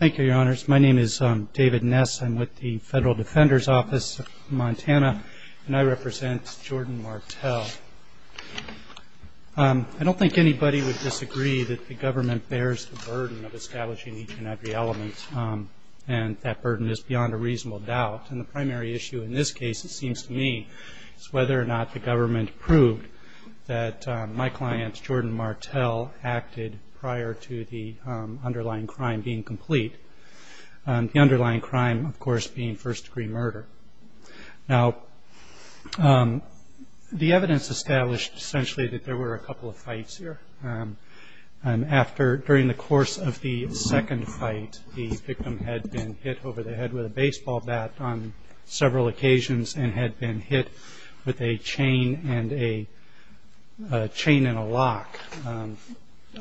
Thank you, your honors. My name is David Ness. I'm with the Federal Defender's Office of Montana, and I represent Jordan Martell. I don't think anybody would disagree that the government bears the burden of establishing each and every element, and that burden is beyond a reasonable doubt. And the primary issue in this case, it seems to me, is whether or not the government proved that my client, Jordan Martell, acted prior to the underlying crime being complete. The underlying crime, of course, being first-degree murder. Now, the evidence established, essentially, that there were a couple of fights here. During the course of the second fight, the victim had been hit over the head with a baseball bat on several occasions and had been hit with a chain and a lock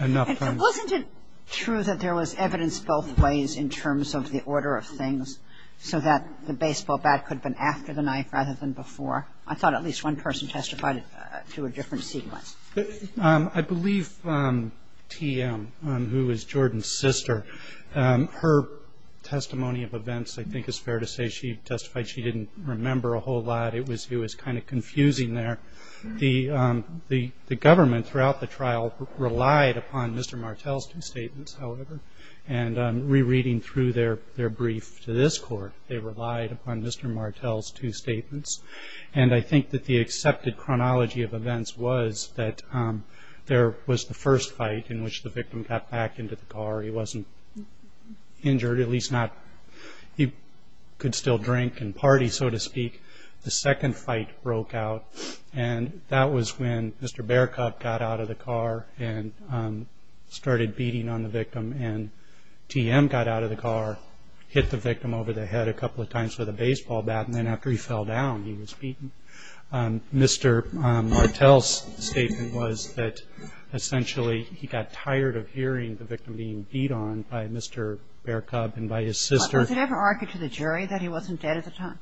enough times. And wasn't it true that there was evidence both ways in terms of the order of things so that the baseball bat could have been after the knife rather than before? I thought at least one person testified to a different sequence. I believe TM, who is Jordan's sister, her testimony of events, I think it's fair to say, she testified she didn't remember a whole lot. It was kind of confusing there. The government throughout the trial relied upon Mr. Martell's two statements, however. And rereading through their brief to this court, they relied upon Mr. Martell's two statements. And I think that the accepted chronology of events was that there was the first fight in which the victim got back into the car. He wasn't injured, at least not. He could still drink and party, so to speak. The second fight broke out, and that was when Mr. Bearcup got out of the car and started beating on the victim. And TM got out of the car, hit the victim over the head a couple of times with a baseball bat, and then after he fell down, he was beaten. Mr. Martell's statement was that essentially he got tired of hearing the victim being beat on by Mr. Bearcup and by his sister. But was it ever argued to the jury that he wasn't dead at the time?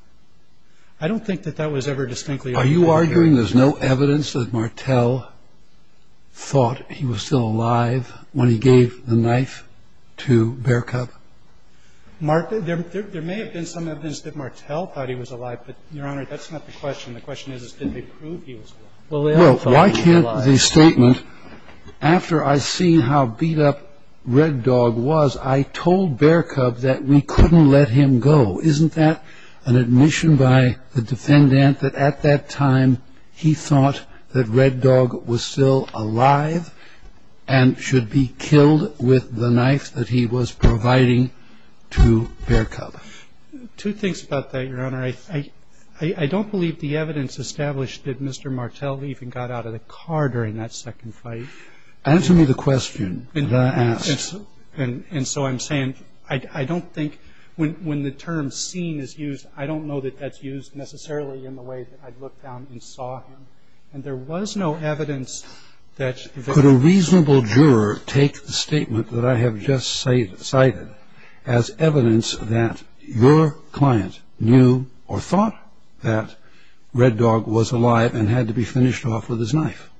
I don't think that that was ever distinctly argued. Are you arguing there's no evidence that Martell thought he was still alive when he gave the knife to Bearcup? There may have been some evidence that Martell thought he was alive, but, Your Honor, that's not the question. The question is, did they prove he was alive? Well, why can't the statement, after I see how beat up Red Dog was, I told Bearcup that we couldn't let him go. Isn't that an admission by the defendant that at that time he thought that Red Dog was still alive and should be killed with the knife that he was providing to Bearcup? Two things about that, Your Honor. I don't believe the evidence established that Mr. Martell even got out of the car during that second fight. Answer me the question that I asked. And so I'm saying I don't think when the term seen is used, I don't know that that's used necessarily in the way that I looked down and saw him. And there was no evidence that the victim was still alive. Could a reasonable juror take the statement that I have just cited as evidence that your client knew or thought that Red Dog was alive and had to be finished off with his knife?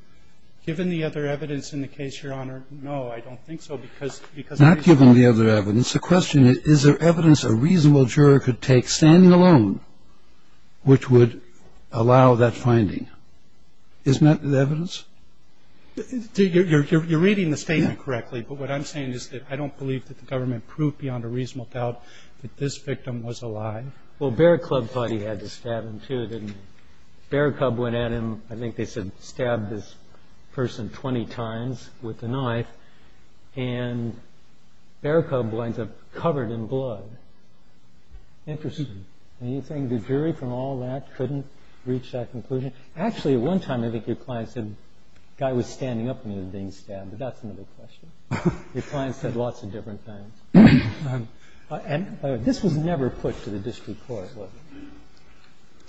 Given the other evidence in the case, Your Honor, no, I don't think so because Not given the other evidence. The question is, is there evidence a reasonable juror could take standing alone Isn't that the evidence? You're reading the statement correctly. But what I'm saying is that I don't believe that the government proved beyond a reasonable doubt that this victim was alive. Well, Bearcup thought he had to stab him too, didn't he? Bearcup went at him. I think they said stabbed this person 20 times with the knife. And Bearcup winds up covered in blood. Interesting. And you think the jury from all that couldn't reach that conclusion? Actually, at one time, I think your client said the guy was standing up when he was being stabbed. But that's another question. Your client said lots of different things. And this was never put to the district court, was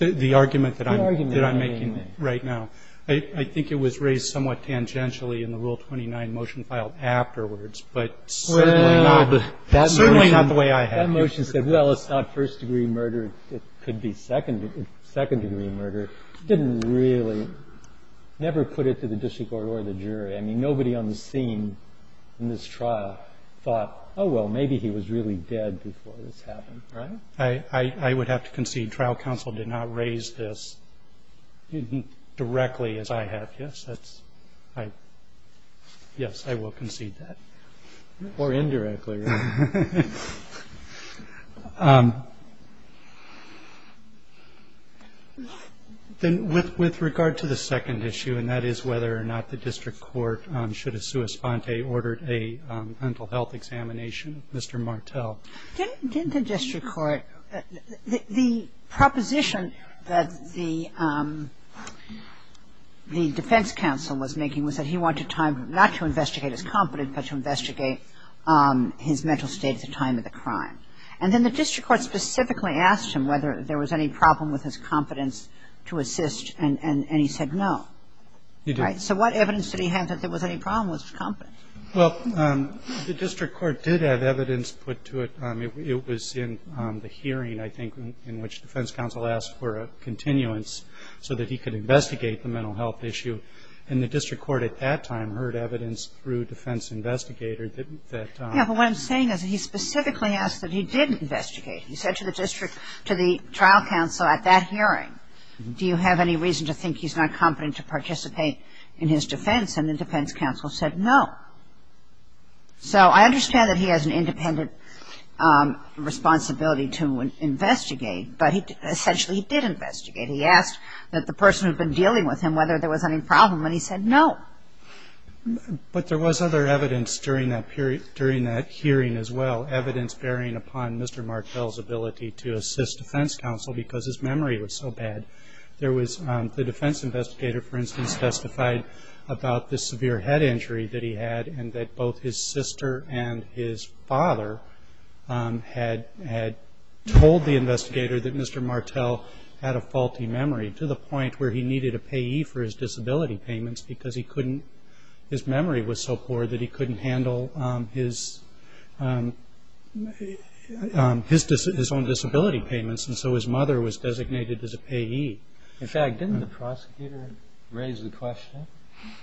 it? The argument that I'm making right now, I think it was raised somewhat tangentially in the Rule 29 motion filed afterwards, but certainly not the way I have. That motion said, well, it's not first-degree murder. It could be second-degree murder. It didn't really, never put it to the district court or the jury. I mean, nobody on the scene in this trial thought, oh, well, maybe he was really dead before this happened. I would have to concede trial counsel did not raise this directly, as I have. Yes, I will concede that. Or indirectly. Then with regard to the second issue, and that is whether or not the district court should have sua sponte ordered a mental health examination, Mr. Martel. Didn't the district court, the proposition that the defense counsel was making was that he wanted time not to investigate his competence, but to investigate his mental state at the time of the crime. And then the district court specifically asked him whether there was any problem with his competence to assist, and he said no. He didn't. So what evidence did he have that there was any problem with his competence? Well, the district court did have evidence put to it. It was in the hearing, I think, in which defense counsel asked for a continuance so that he could investigate the mental health issue. And the district court at that time heard evidence through defense investigator that that time. Yes, but what I'm saying is that he specifically asked that he didn't investigate. He said to the district, to the trial counsel at that hearing, do you have any reason to think he's not competent to participate in his defense? And the defense counsel said no. So I understand that he has an independent responsibility to investigate, but essentially he did investigate. He asked that the person who had been dealing with him whether there was any problem, and he said no. But there was other evidence during that hearing as well, evidence bearing upon Mr. Martel's ability to assist defense counsel because his memory was so bad. The defense investigator, for instance, testified about the severe head injury that he had and that both his sister and his father had told the investigator that Mr. Martel had a faulty memory to the point where he needed a payee for his disability payments because his memory was so poor that he couldn't handle his own disability payments, and so his mother was designated as a payee. In fact, didn't the prosecutor raise the question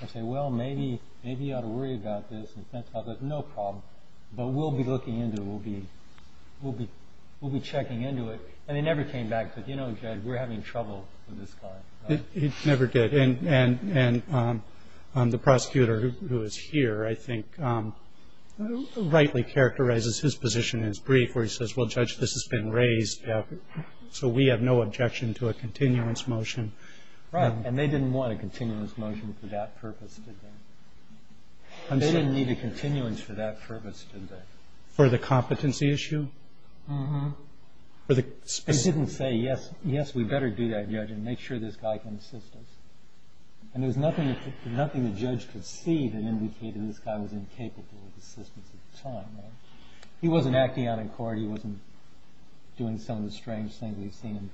and say, well, maybe you ought to worry about this, and the defense counsel said no problem, but we'll be looking into it, we'll be checking into it, and they never came back and said, you know, Judge, we're having trouble with this guy. He never did, and the prosecutor who is here, I think, rightly characterizes his position in his brief where he says, well, Judge, this has been raised so we have no objection to a continuance motion. And they didn't want a continuance motion for that purpose, did they? They didn't need a continuance for that purpose, did they? For the competency issue? They didn't say, yes, we'd better do that, Judge, and make sure this guy can assist us. And there was nothing the judge could see that indicated this guy was incapable of assistance at the time. He wasn't acting out in court. He wasn't doing some of the strange things we've seen in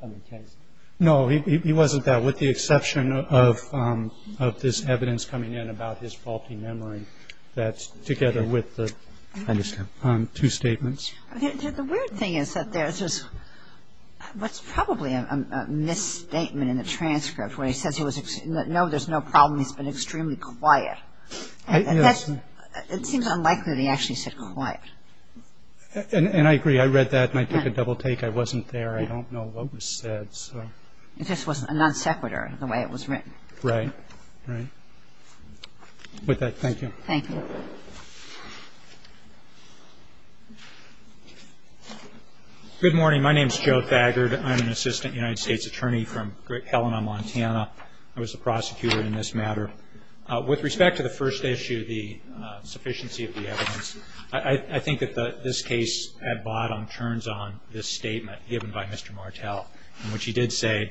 other cases. No, he wasn't that, with the exception of this evidence coming in about his faulty memory, that's together with the two statements. The weird thing is that there's this, what's probably a misstatement in the transcript where he says, no, there's no problem, he's been extremely quiet. It seems unlikely that he actually said quiet. And I agree. I read that and I took a double take. I wasn't there. I don't know what was said, so. It just wasn't a non sequitur, the way it was written. Right, right. With that, thank you. Thank you. Good morning. My name is Joe Thagard. I'm an assistant United States attorney from Helena, Montana. I was the prosecutor in this matter. With respect to the first issue, the sufficiency of the evidence, I think that this case at bottom turns on this statement given by Mr. Martel, in which he did say,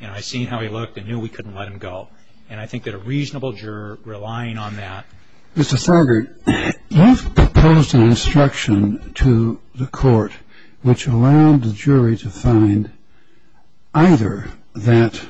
you know, I seen how he looked and knew we couldn't let him go. And I think that a reasonable juror relying on that. Mr. Thagard, you've proposed an instruction to the court which allowed the jury to find either that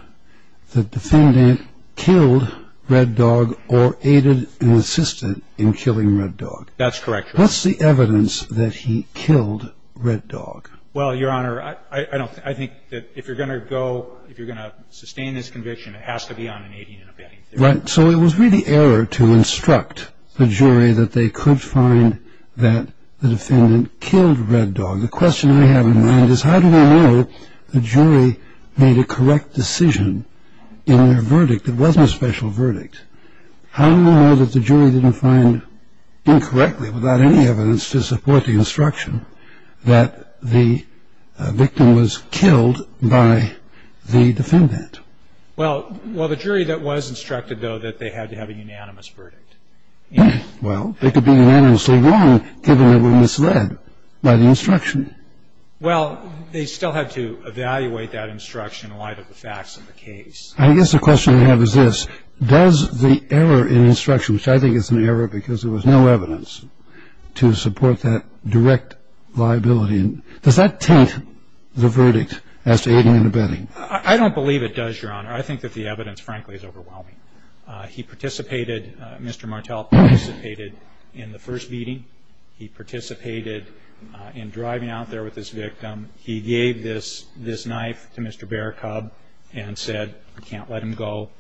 the defendant killed Red Dog or aided and assisted in killing Red Dog. That's correct, Your Honor. What's the evidence that he killed Red Dog? Well, Your Honor, I think that if you're going to go, if you're going to sustain this conviction, it has to be on an aiding and abetting theory. Right. So it was really error to instruct the jury that they could find that the defendant killed Red Dog. The question I have in mind is how do we know the jury made a correct decision in their verdict? It wasn't a special verdict. How do we know that the jury didn't find incorrectly without any evidence to support the instruction that the victim was killed by the defendant? Well, the jury that was instructed, though, that they had to have a unanimous verdict. Well, it could be unanimously wrong given that it was misled by the instruction. Well, they still had to evaluate that instruction in light of the facts of the case. I guess the question I have is this. Does the error in instruction, which I think is an error because there was no evidence to support that direct liability, does that taint the verdict as to aiding and abetting? I don't believe it does, Your Honor. I think that the evidence, frankly, is overwhelming. He participated, Mr. Martel participated in the first beating. He participated in driving out there with his victim. He gave this knife to Mr. Barakob and said, I can't let him go.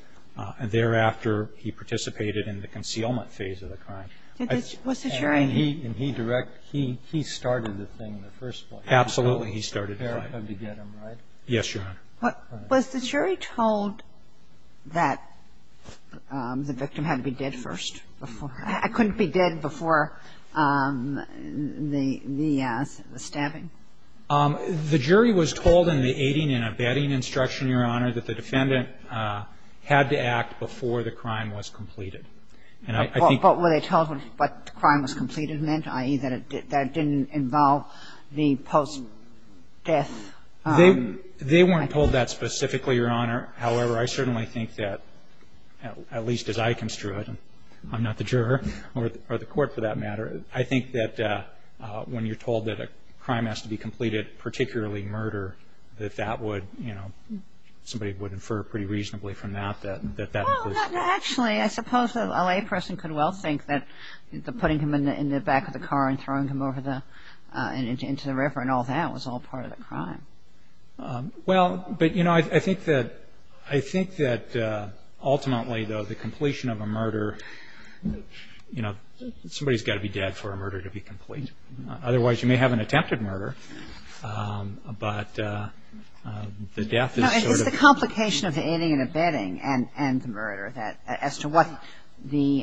Thereafter, he participated in the concealment phase of the crime. Did the jury? And he direct he started the thing in the first place. Absolutely, he started the thing. Yes, Your Honor. Was the jury told that the victim had to be dead first? I couldn't be dead before the stabbing? The jury was told in the aiding and abetting instruction, Your Honor, that the defendant had to act before the crime was completed. And I think... But were they told what the crime was completed meant, i.e., that it didn't involve the post-death? They weren't told that specifically, Your Honor. However, I certainly think that, at least as I construe it, and I'm not the juror or the court for that matter, I think that when you're told that a crime has to be completed, particularly murder, that that would, you know, somebody would infer pretty reasonably from that that that was... Well, actually, I suppose a layperson could well think that putting him in the back of the car and throwing him over into the river and all that was all part of the crime. Well, but, you know, I think that ultimately, though, the completion of a murder, you know, somebody's got to be dead for a murder to be complete. Otherwise, you may have an attempted murder, but the death is sort of... No, it's the complication of the aiding and abetting and the murder, that as to what the...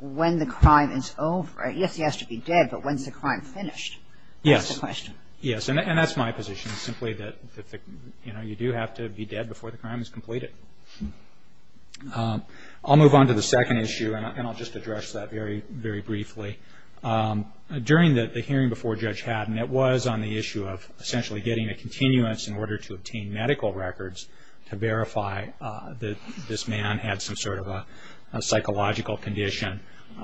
when the crime is over. Yes, he has to be dead, but when's the crime finished? Yes. That's the question. Yes, and that's my position, simply that, you know, you do have to be dead before the crime is completed. I'll move on to the second issue, and I'll just address that very briefly. During the hearing before Judge Haddon, it was on the issue of essentially getting a continuance in order to obtain medical records to verify that this man had some sort of a psychological condition.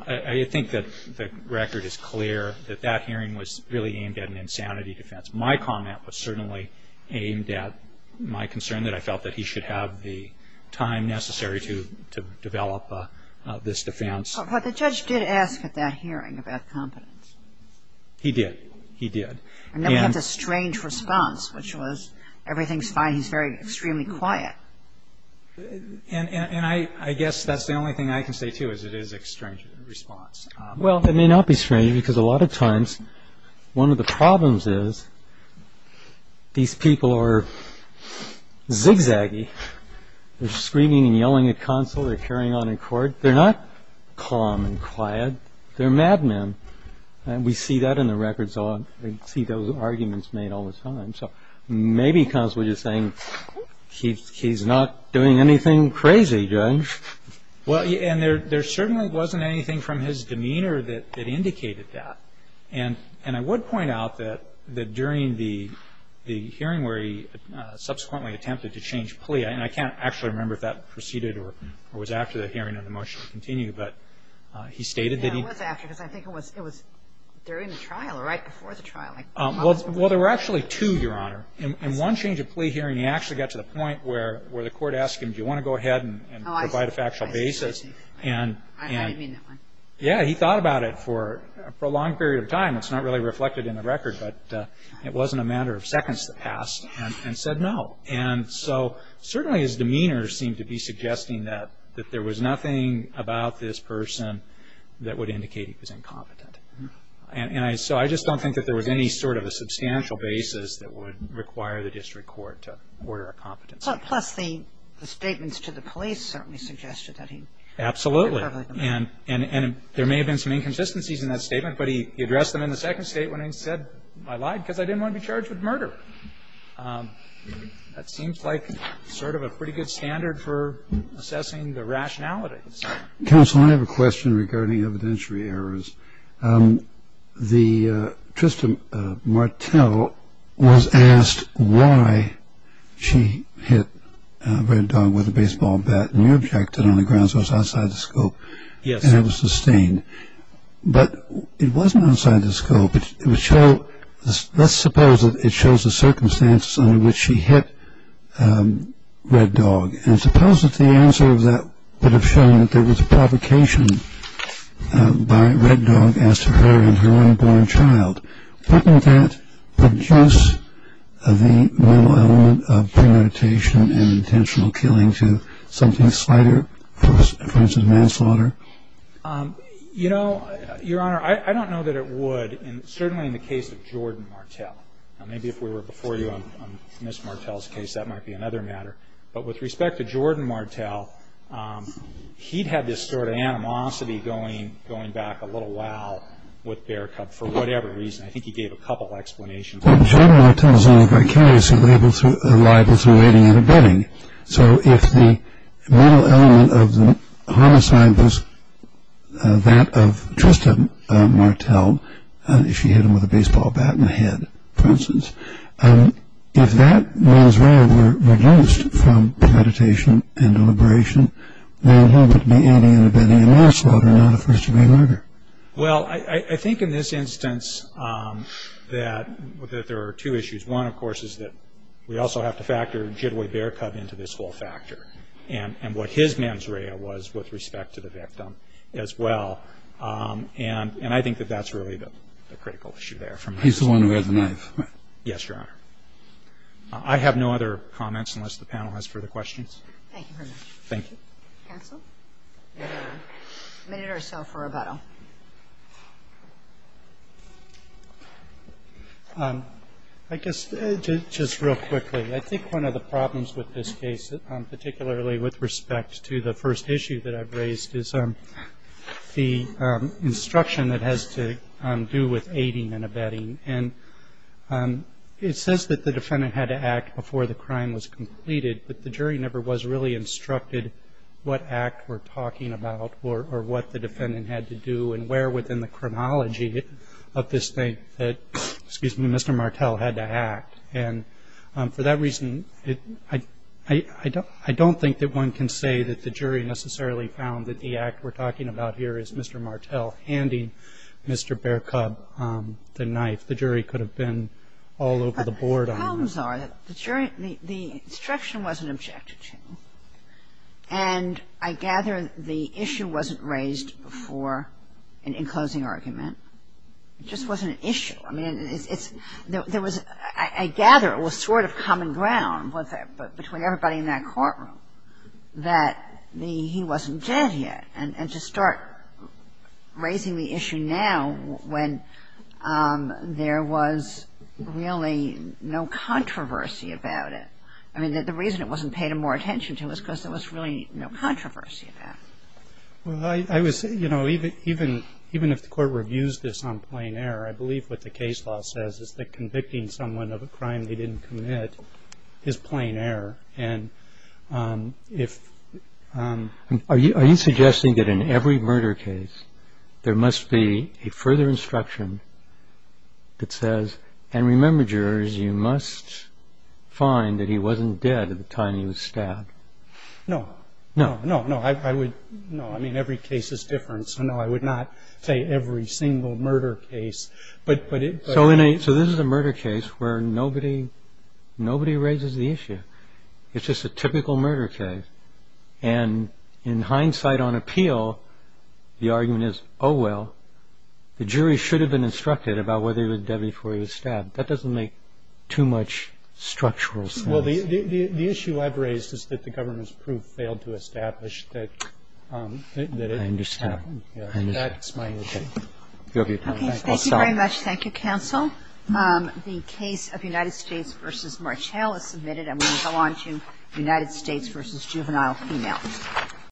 I think that the record is clear that that hearing was really aimed at an insanity defense. My comment was certainly aimed at my concern that I felt that he should have the time necessary to develop this defense. But the judge did ask at that hearing about competence. He did. He did. And then we have this strange response, which was, everything's fine, he's extremely quiet. And I guess that's the only thing I can say, too, is it is a strange response. Well, it may not be strange, because a lot of times one of the problems is these people are zigzaggy. They're screaming and yelling at counsel. They're carrying on in court. They're not calm and quiet. They're madmen. And we see that in the records a lot. We see those arguments made all the time. So maybe counsel is just saying, he's not doing anything crazy, Judge. Well, and there certainly wasn't anything from his demeanor that indicated that. And I would point out that during the hearing where he subsequently attempted to change plea, and I can't actually remember if that proceeded or was after the hearing and the motion to continue, but he stated that he... It was after, because I think it was during the trial or right before the trial. Well, there were actually two, Your Honor. In one change of plea hearing, he actually got to the point where the court asked him, do you want to go ahead and provide a factual basis? I didn't mean that one. Yeah, he thought about it for a prolonged period of time. It's not really reflected in the record, but it wasn't a matter of seconds that passed and said no. And so certainly his demeanor seemed to be suggesting that there was nothing about this person that would indicate he was incompetent. And so I just don't think that there was any sort of a substantial basis that would require the district court to order a competency. Plus the statements to the police certainly suggested that he... Absolutely. And there may have been some inconsistencies in that statement, but he addressed them in the second statement and said, I lied because I didn't want to be charged with murder. That seems like sort of a pretty good standard for assessing the rationalities. Counsel, I have a question regarding evidentiary errors. Trista Martel was asked why she hit Red Dog with a baseball bat, and you objected on the grounds it was outside the scope. Yes. And it was sustained. But it wasn't outside the scope. Let's suppose that it shows the circumstances under which she hit Red Dog, and suppose that the answer of that would have shown that there was a provocation by Red Dog as to her and her unborn child. Wouldn't that produce the mental element of premeditation and intentional killing to something slighter, for instance manslaughter? You know, Your Honor, I don't know that it would, certainly in the case of Jordan Martel. Maybe if we were before you on Ms. Martel's case, that might be another matter. But with respect to Jordan Martel, he'd had this sort of animosity going back a little while with Bear Cub for whatever reason. I think he gave a couple explanations. Well, Jordan Martel is only vicariously liable through aiding and abetting. So if the mental element of the homicide was that of Trista Martel, if she hit him with a baseball bat in the head, for instance, if that mens rea were reduced from premeditation and deliberation, then he would be aiding and abetting a manslaughter, not a first-degree murder. Well, I think in this instance that there are two issues. One, of course, is that we also have to factor Jitway Bear Cub into this whole factor and what his mens rea was with respect to the victim as well. And I think that that's really the critical issue there. He's the one who has the knife. Yes, Your Honor. I have no other comments unless the panel has further questions. Thank you very much. Thank you. Counsel? A minute or so for rebuttal. I guess just real quickly, I think one of the problems with this case, particularly with respect to the first issue that I've raised, is the instruction it has to do with aiding and abetting. And it says that the defendant had to act before the crime was completed, but the jury never was really instructed what act we're talking about or what the defendant had to do and where within the chronology of this thing that Mr. Martel had to act. And for that reason, I don't think that one can say that the jury necessarily found that the act we're talking about here is Mr. Martel handing Mr. Bear Cub the knife. The jury could have been all over the board on that. The problems are that the instruction wasn't objected to. And I gather the issue wasn't raised before in closing argument. It just wasn't an issue. I mean, I gather it was sort of common ground between everybody in that courtroom that he wasn't dead yet. And to start raising the issue now when there was really no controversy about it. I mean, the reason it wasn't paid more attention to was because there was really no controversy about it. Well, even if the court reviews this on plain error, I believe what the case law says is that convicting someone of a crime they didn't commit is plain error. Are you suggesting that in every murder case, there must be a further instruction that says, And remember, jurors, you must find that he wasn't dead at the time he was stabbed. No. No, no, no. No, I mean, every case is different. So no, I would not say every single murder case. So this is a murder case where nobody raises the issue. It's just a typical murder case. And in hindsight on appeal, the argument is, oh, well, the jury should have been instructed about whether he was dead before he was stabbed. That doesn't make too much structural sense. Well, the issue I've raised is that the government's proof failed to establish that. I understand. That's my understanding. Okay. Thank you very much. Thank you, counsel. The case of United States v. Marchall is submitted. I'm going to go on to United States v. Juvenile Female.